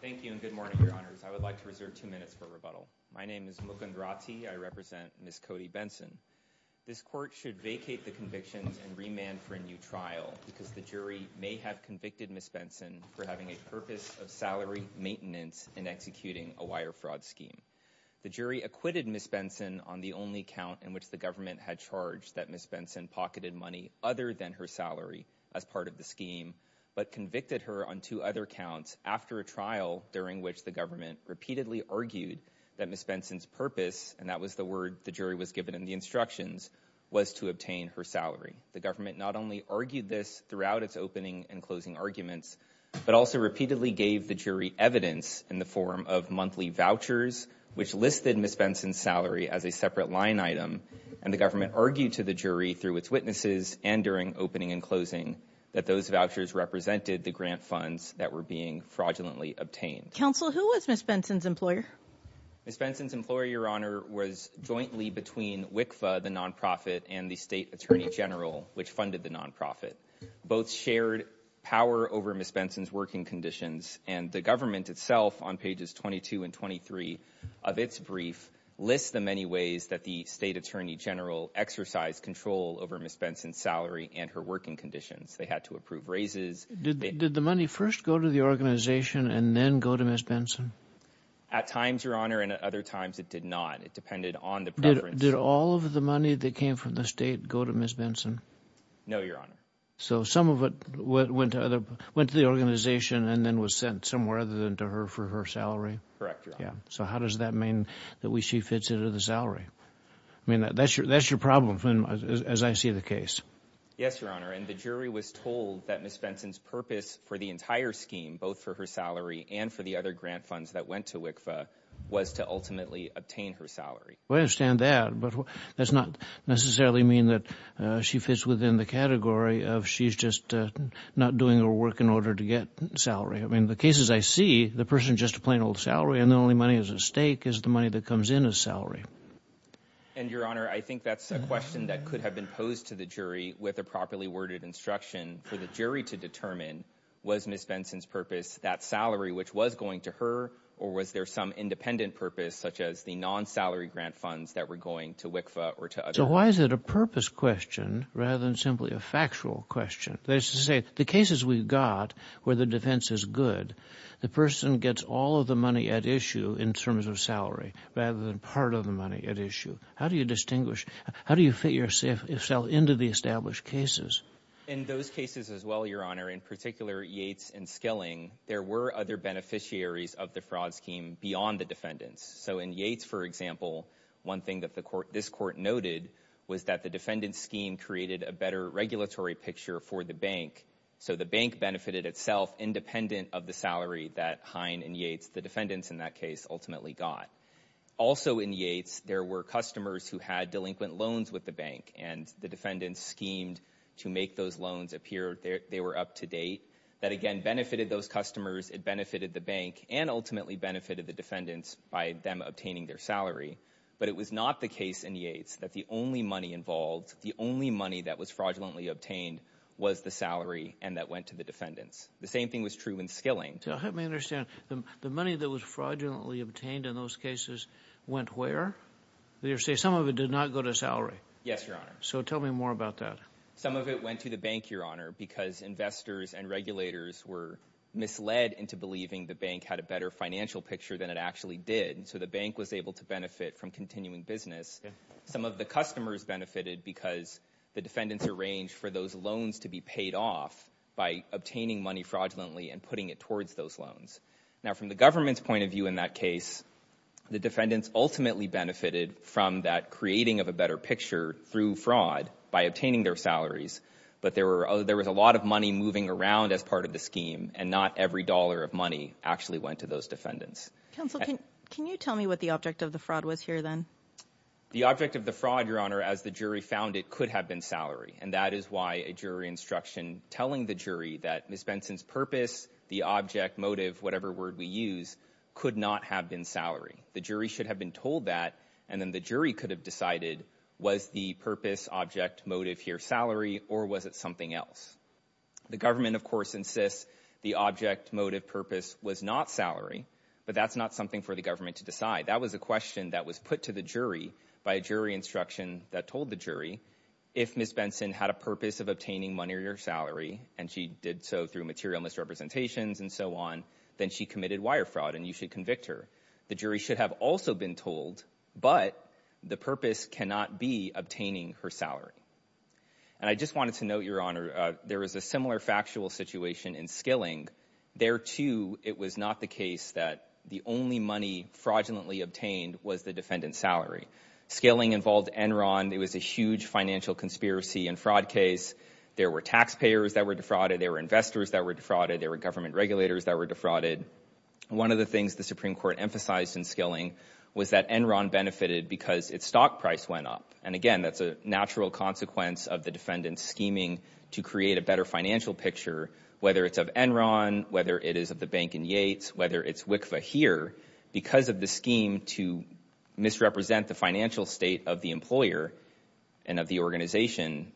Thank you and good morning, your honors. I would like to reserve two minutes for rebuttal. My name is Mukund Rati. I represent Ms. Cody Benson. This court should vacate the convictions and remand for a new trial because the jury may have convicted Ms. Benson for having a purpose of salary maintenance in executing a wire fraud scheme. The jury acquitted Ms. Benson on the only count in which the government had charged that Ms. Benson pocketed money other than her salary as part of the scheme, but convicted her on two other counts after a trial during which the government repeatedly argued that Ms. Benson's purpose, and that was the word the jury was given in the instructions, was to obtain her salary. The government not only argued this throughout its opening and closing arguments, but also repeatedly gave the jury evidence in the form of monthly vouchers, which listed Ms. Benson's salary as a separate line item, and the government argued to the jury through its witnesses and during opening and closing that those vouchers represented the grant funds that were being fraudulently obtained. Counsel, who was Ms. Benson's employer? Ms. Benson's employer, your honor, was jointly between WICFA, the nonprofit, and the State Attorney General, which funded the nonprofit. Both shared power over Ms. Benson's working conditions, and the government itself, on pages 22 and 23 of its brief, lists the many ways that the State Attorney General exercised control over Ms. Benson's salary and her working conditions. They had to approve raises. Did the money first go to the organization and then go to Ms. Benson? At times, your honor, and at other times it did not. It depended on the preference. Did all of the money that came from the state go to Ms. Benson? No, your honor. So some of it went to the organization and then was sent somewhere other than to her for her salary? Correct, your honor. So how does that mean that she fits into the salary? I mean, that's your problem, as I see the case. Yes, your honor, and the jury was told that Ms. Benson's purpose for the entire scheme, both for her salary and for the other grant funds that went to WICFA, was to ultimately obtain her salary. I understand that, but that's not necessarily mean that she fits within the category of she's just not doing her work in order to get salary. I mean, the cases I see, the person's just a plain old salary and the only money is at stake is the money that comes in as salary. And, your honor, I think that's a question that could have been posed to the jury with a properly worded instruction for the jury to determine was Ms. Benson's purpose that salary which was going to her or was there some independent purpose such as the non-salary grant funds that were going to WICFA or to others? So why is it a purpose question rather than simply a factual question? That is to say, the cases we've got where the defense is good, the person gets all of the money at issue in terms of salary rather than part of the money at issue. How do you distinguish? How do you fit yourself into the established cases? In those cases as well, your honor, in particular Yates and Skilling, there were other beneficiaries of the fraud scheme beyond the defendants. So in Yates, for example, one thing that this court noted was that the defendant's scheme created a better regulatory picture for the bank. So the bank benefited itself independent of the salary that Hine and Yates, the defendants in that case, ultimately got. Also in Yates, there were customers who had delinquent loans with the bank and the defendants schemed to make those loans appear they were up-to-date. That again benefited those customers, it benefited the bank, and ultimately benefited the defendants by them obtaining their salary. But it was not the case in Yates that the only money involved, the only money that was fraudulently obtained, was the salary and that went to the defendants. The same thing was true in Skilling. Let me understand, the money that was fraudulently obtained in those cases went where? You say some of it did not go to salary? Yes, your honor. So tell me more about that. Some of it went to the bank, your honor, because investors and regulators were misled into believing the bank had a better financial picture than it actually did. So the bank was able to benefit from continuing business. Some of the customers benefited because the defendants arranged for those loans to be paid off by obtaining money fraudulently and putting it towards those loans. Now from the government's point of view in that case, the defendants ultimately benefited from that creating of a better picture through fraud by obtaining their salaries. But there was a lot of money moving around as part of the scheme and not every dollar of money actually went to those defendants. Counselor, can you tell me what the object of the fraud was here then? The object of the fraud, your honor, as the jury found it, could have been salary and that is why a jury instruction telling the jury that Ms. Benson's purpose, the object, motive, whatever word we use, could not have been salary. The jury should have been told that and then the jury could have decided was the purpose, object, motive here salary or was it something else? The government of course insists the object, motive, purpose was not salary but that's not something for the government to decide. That was a question that was put to the jury by a jury instruction that told the jury if Ms. Benson had a purpose of obtaining money or salary and she did so through material misrepresentations and so on, then she committed wire fraud and you should convict her. The jury should have also been told but the purpose cannot be obtaining her salary. And I just wanted to note, your honor, there is a similar factual situation in Skilling. There too it was not the case that the only money fraudulently obtained was the defendant's salary. Skilling involved Enron. It was a huge financial conspiracy and fraud case. There were taxpayers that were defrauded, there were investors that were defrauded, there were government regulators that were defrauded. One of the things the Supreme Court emphasized in Skilling was that Enron benefited because its stock price went up and again that's a natural consequence of the defendant's scheming to create a better financial picture whether it's of Enron, whether it is of the Bank and Yates, whether it's WICFA here. Because of the scheme to misrepresent the financial state of the employer and of the organization,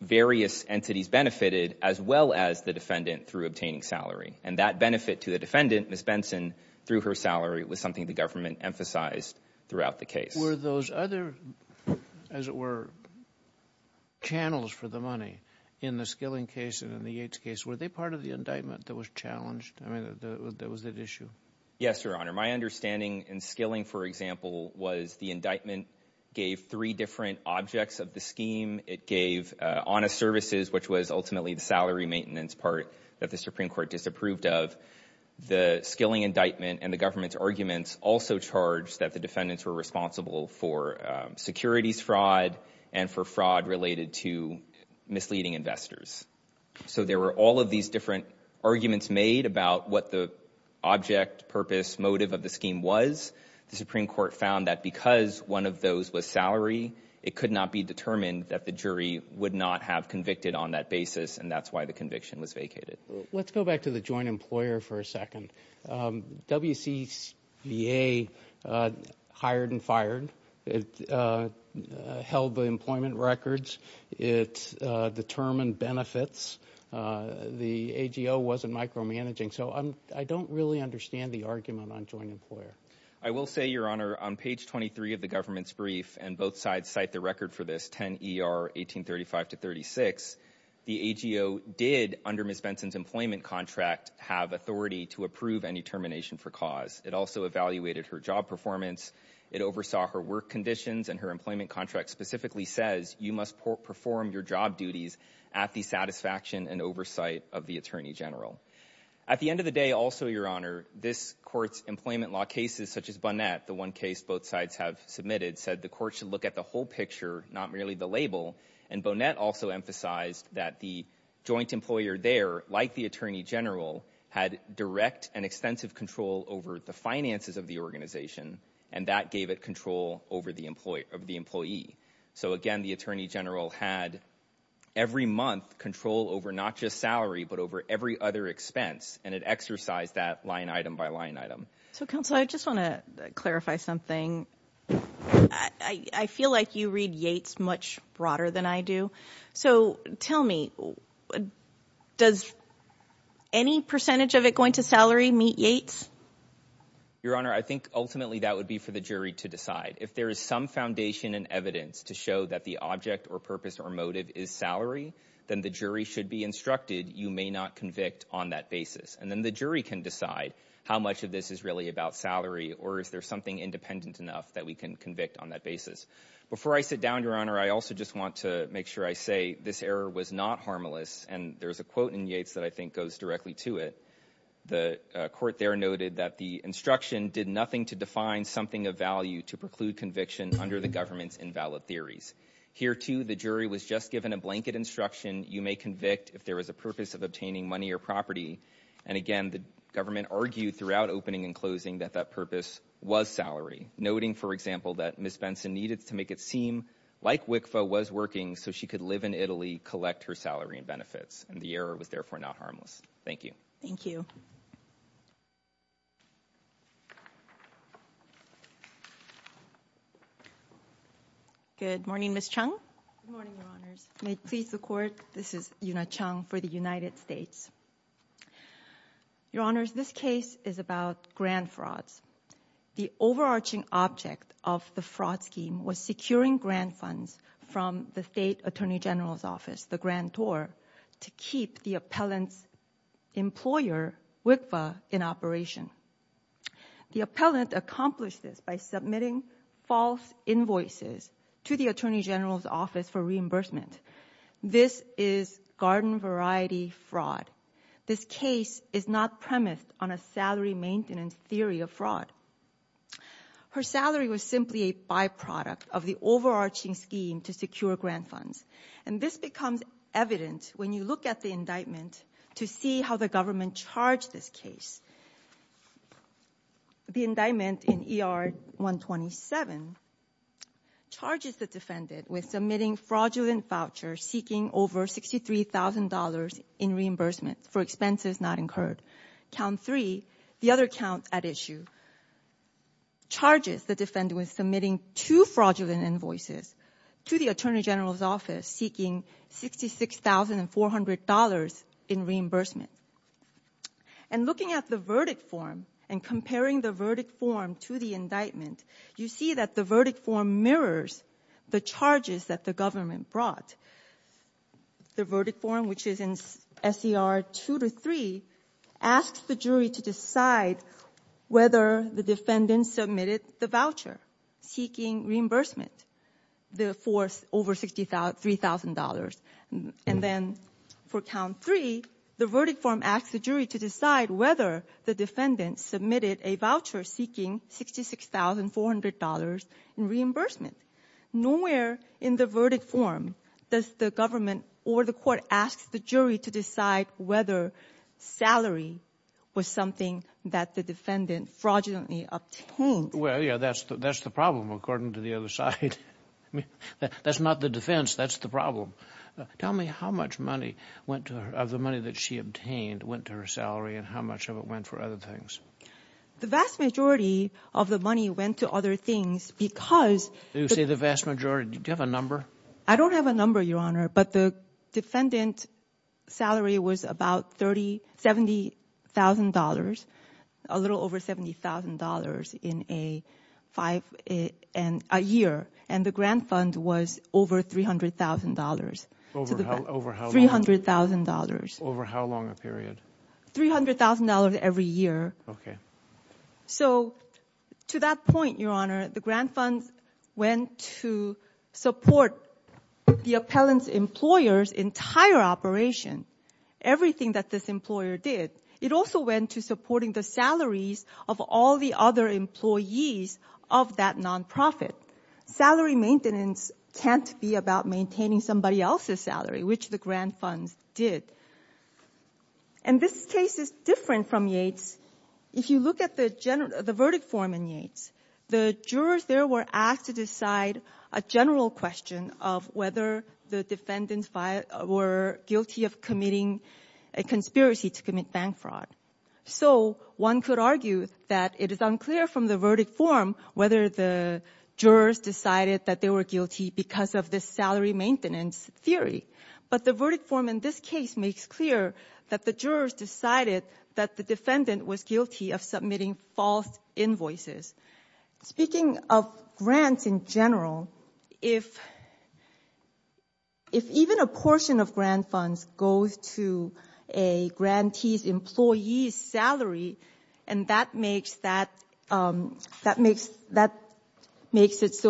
various entities benefited as well as the defendant through obtaining salary and that benefit to the defendant, Ms. Benson, through her salary was something the government emphasized throughout the Were those other, as it were, channels for the money in the Skilling case and in the Yates case, were they part of the indictment that was challenged? I mean, that was at issue? Yes, your honor. My understanding in Skilling, for example, was the indictment gave three different objects of the scheme. It gave honest services, which was ultimately the salary maintenance part that the Supreme Court disapproved of. The Skilling indictment and the government's arguments also charged that the defendants were responsible for securities fraud and for fraud related to misleading investors. So there were all of these different arguments made about what the object, purpose, motive of the scheme was. The Supreme Court found that because one of those was salary, it could not be determined that the jury would not have convicted on that basis and that's why the conviction was vacated. Let's go back to the joint employer for a second. WCBA hired and fired. It held the employment records. It determined benefits. The AGO wasn't micromanaging. So I don't really understand the argument on joint employer. I will say, your honor, on page 23 of the government's brief, and both sides cite the record for this, 10 ER 1835 to 36, the AGO did, under Ms. Benson's employment contract, have authority to approve any termination for cause. It also evaluated her job performance. It oversaw her work conditions and her employment contract specifically says you must perform your job duties at the satisfaction and oversight of the Attorney General. At the end of the day, also, your honor, this court's employment law cases, such as Bonnet, the one case both sides have submitted, said the court should look at the whole picture, not merely the label, and Bonnet also emphasized that the joint employer there, like the Attorney General, had direct and extensive control over the finances of the organization, and that gave it control over the employee. So again, the Attorney General had, every month, control over not just salary, but over every other expense, and it exercised that line item by line item. So counsel, I just want to clarify something. I feel like you read Yates much broader than I do. So tell me, does any percentage of it going to salary meet Yates? Your honor, I think ultimately that would be for the jury to decide. If there is some foundation and evidence to show that the object or purpose or motive is salary, then the jury should be instructed you may not convict on that basis, and then the jury can decide how much of this is really about salary, or is there something independent enough that we can convict on that basis. Before I sit down, your honor, I also just want to make sure I say this error was not harmless, and there's a quote in Yates that I think goes directly to it. The court there noted that the instruction did nothing to define something of value to preclude conviction under the government's invalid theories. Here, too, the jury was just given a blanket instruction, you may convict if there was a purpose of obtaining money or property, and again, the government argued throughout opening and closing that that purpose was salary, noting, for example, that Ms. Benson needed to make it seem like WICFA was working so she could live in Italy, collect her salary and benefits, and the error was therefore not harmless. Thank you. Thank you. Good morning, Ms. Chung. Good morning, your honors. May it please the court, this is Yuna Chung for the United States. Your honors, this case is about grand frauds. The overarching object of the fraud scheme was securing grant funds from the state attorney general's office, the grantor, to keep the appellant's employer, WICFA, in operation. The appellant accomplished this by submitting false invoices to the attorney general's office for reimbursement. This is garden variety fraud. This case is not premised on a salary maintenance theory of fraud. Her salary was simply a byproduct of the overarching scheme to secure grant funds, and this becomes evident when you look at the indictment to see how the government charged this case. The indictment in ER 127 charges the defendant with submitting fraudulent vouchers seeking over $63,000 in reimbursement for expenses not incurred. Count 3, the other count at issue, charges the defendant with submitting two fraudulent invoices to the attorney general's office seeking $66,400 in reimbursement. And looking at the verdict form and comparing the verdict form to the indictment, you see that the verdict form mirrors the charges that the government brought. The verdict form, which is in SCR 2-3, asks the jury to decide whether the defendant submitted the voucher seeking reimbursement for over $63,000. And then for count 3, the verdict form asks the jury to decide whether the defendant submitted a voucher seeking $66,400 in reimbursement. Nowhere in the verdict form does the government or the court ask the jury to decide whether salary was something that the defendant fraudulently obtained. Well, yeah, that's the problem according to the other side. I mean, that's not the defense, that's the problem. Tell me how much money went to her, of the money that she obtained, went to her salary, and how much of it went for other things? The vast majority of the money went to other things because... You say the vast majority. Do you have a number? I don't have a number, Your Honor, but the defendant's salary was about $70,000, a little over $70,000 in a year, and the grant fund was over $300,000. Over how long? $300,000. Over how long a period? $300,000 every year. Okay. So to that point, Your Honor, the grant fund went to support the appellant's employer's entire operation, everything that this employer did. It also went to supporting the salaries of all the other employees of that nonprofit. Salary maintenance can't be about maintaining somebody else's salary, which the grant funds did. And this case is different from Yates. If you look at the verdict form in Yates, the jurors there were asked to decide a general question of whether the defendants were guilty of committing a conspiracy to commit bank fraud. So one could argue that it is unclear from the verdict form whether the jurors decided that they were guilty because of this salary maintenance theory. But the verdict form in this case makes clear that the jurors decided that the defendant was guilty of submitting false invoices. Speaking of grants in general, if even a portion of grant funds goes to a grantee's employee's salary and that makes it so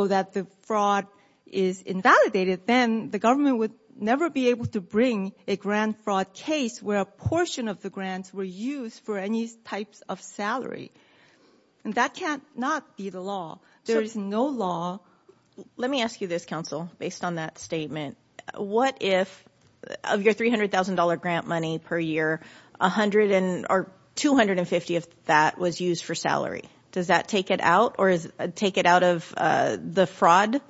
that the fraud is invalidated, then the government would never be able to bring a grant fraud case where a portion of the grants were used for any types of salary. And that cannot be the law. There is no law. Let me ask you this, counsel, based on that statement. What if of your $300,000 grant money per year, $200,000 or $250,000 of that was used for salary? Does that take it out or take it out of the fraud?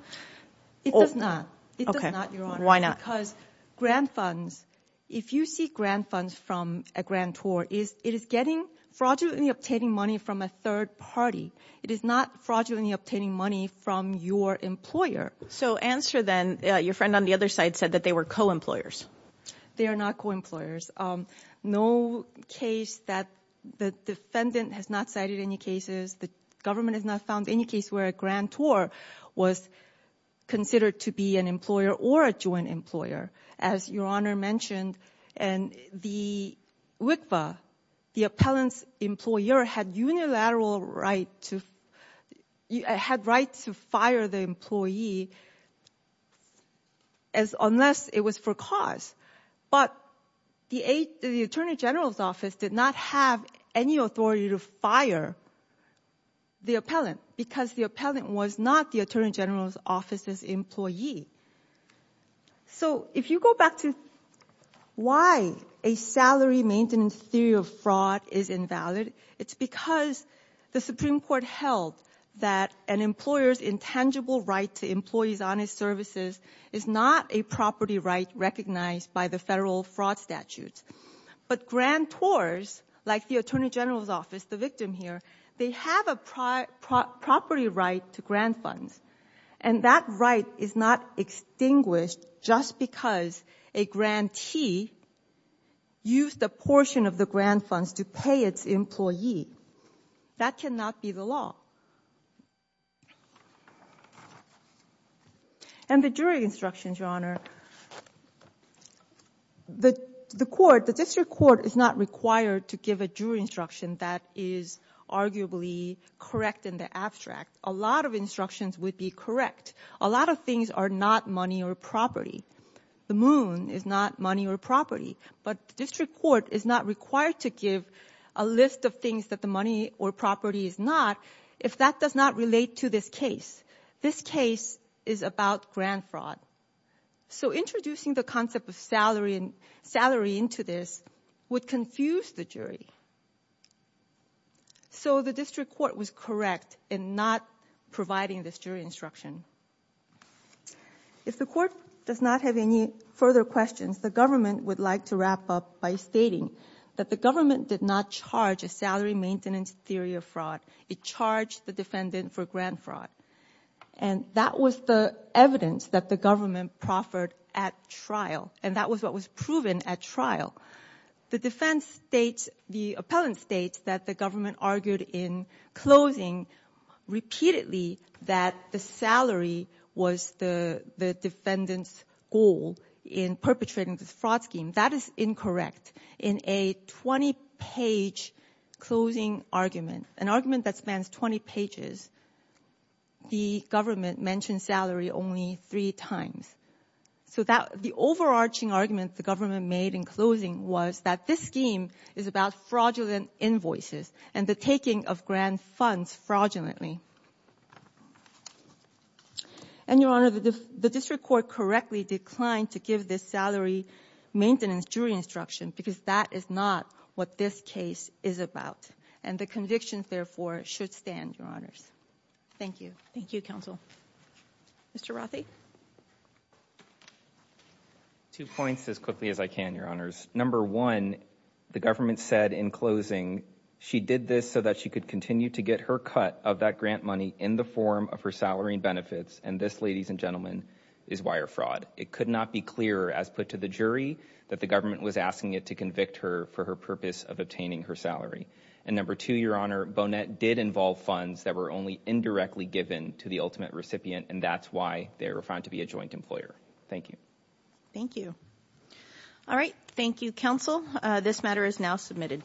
It does not. It does not, Your Honor. Why not? Because grant funds, if you seek grant funds from a grantor, it is fraudulently obtaining money from a third party. It is not fraudulently obtaining money from your employer. So answer then, your friend on the other side said that they were co-employers. They are not co-employers. No case that the defendant has not cited any cases, the government has not found any case where a grantor was considered to be an employer or a joint employer, as Your Honor mentioned. And the WICVA, the appellant's employer had right to fire the employee unless it was for cause. But the Attorney General's Office did not have any authority to fire the appellant because the appellant was not the Attorney General's employee. So if you go back to why a salary maintenance theory of fraud is invalid, it's because the Supreme Court held that an employer's intangible right to employee's honest services is not a property right recognized by the federal fraud statute. But grantors, like the Attorney General's Office, the victim here, they have a property right to grant funds. And that right is not extinguished just because a grantee used a portion of the grant funds to pay its employee. That cannot be the law. And the jury instructions, Your Honor, the court, the district court is not required to give a jury instruction that is arguably correct in the abstract. A lot of instructions would be correct. A lot of things are not money or property. The moon is not money or property. But the district court is not required to give a list of things that the money or property is not if that does not relate to this case. This case is about grant fraud. So introducing the concept of salary into this would confuse the jury. So the district court was correct in not providing this jury instruction. If the court does not have any further questions, the government would like to wrap up by stating that the government did not charge a salary maintenance theory of fraud. It charged the defendant for grant fraud. And that was the evidence that the government proffered at trial. And that was what was proven at trial. The defense states, the appellant states that the government argued in closing repeatedly that the salary was the defendant's goal in perpetrating this fraud scheme. That is incorrect. In a 20-page closing argument, an argument that spans 20 pages, the government mentioned salary only three times. So the overarching argument the government made in closing was that this scheme is about fraudulent invoices and the taking of grant funds fraudulently. And, Your Honor, the district court correctly declined to give this salary maintenance jury instruction because that is not what this case is about. And the convictions, therefore, should stand, Your Honors. Thank you. Thank you, counsel. Mr. Rothy. Two points as quickly as I can, Your Honors. Number one, the government said in closing she did this so that she could continue to get her cut of that grant money in the form of her salary and benefits. And this, ladies and gentlemen, is wire fraud. It could not be clearer as put to the jury that the government was asking it to convict her for her purpose of obtaining her salary. And number two, Your Honor, Bonet did involve funds that were only indirectly given to the ultimate recipient, and that's why they were found to be a joint employer. Thank you. Thank you. All right. Thank you, counsel. This matter is now submitted.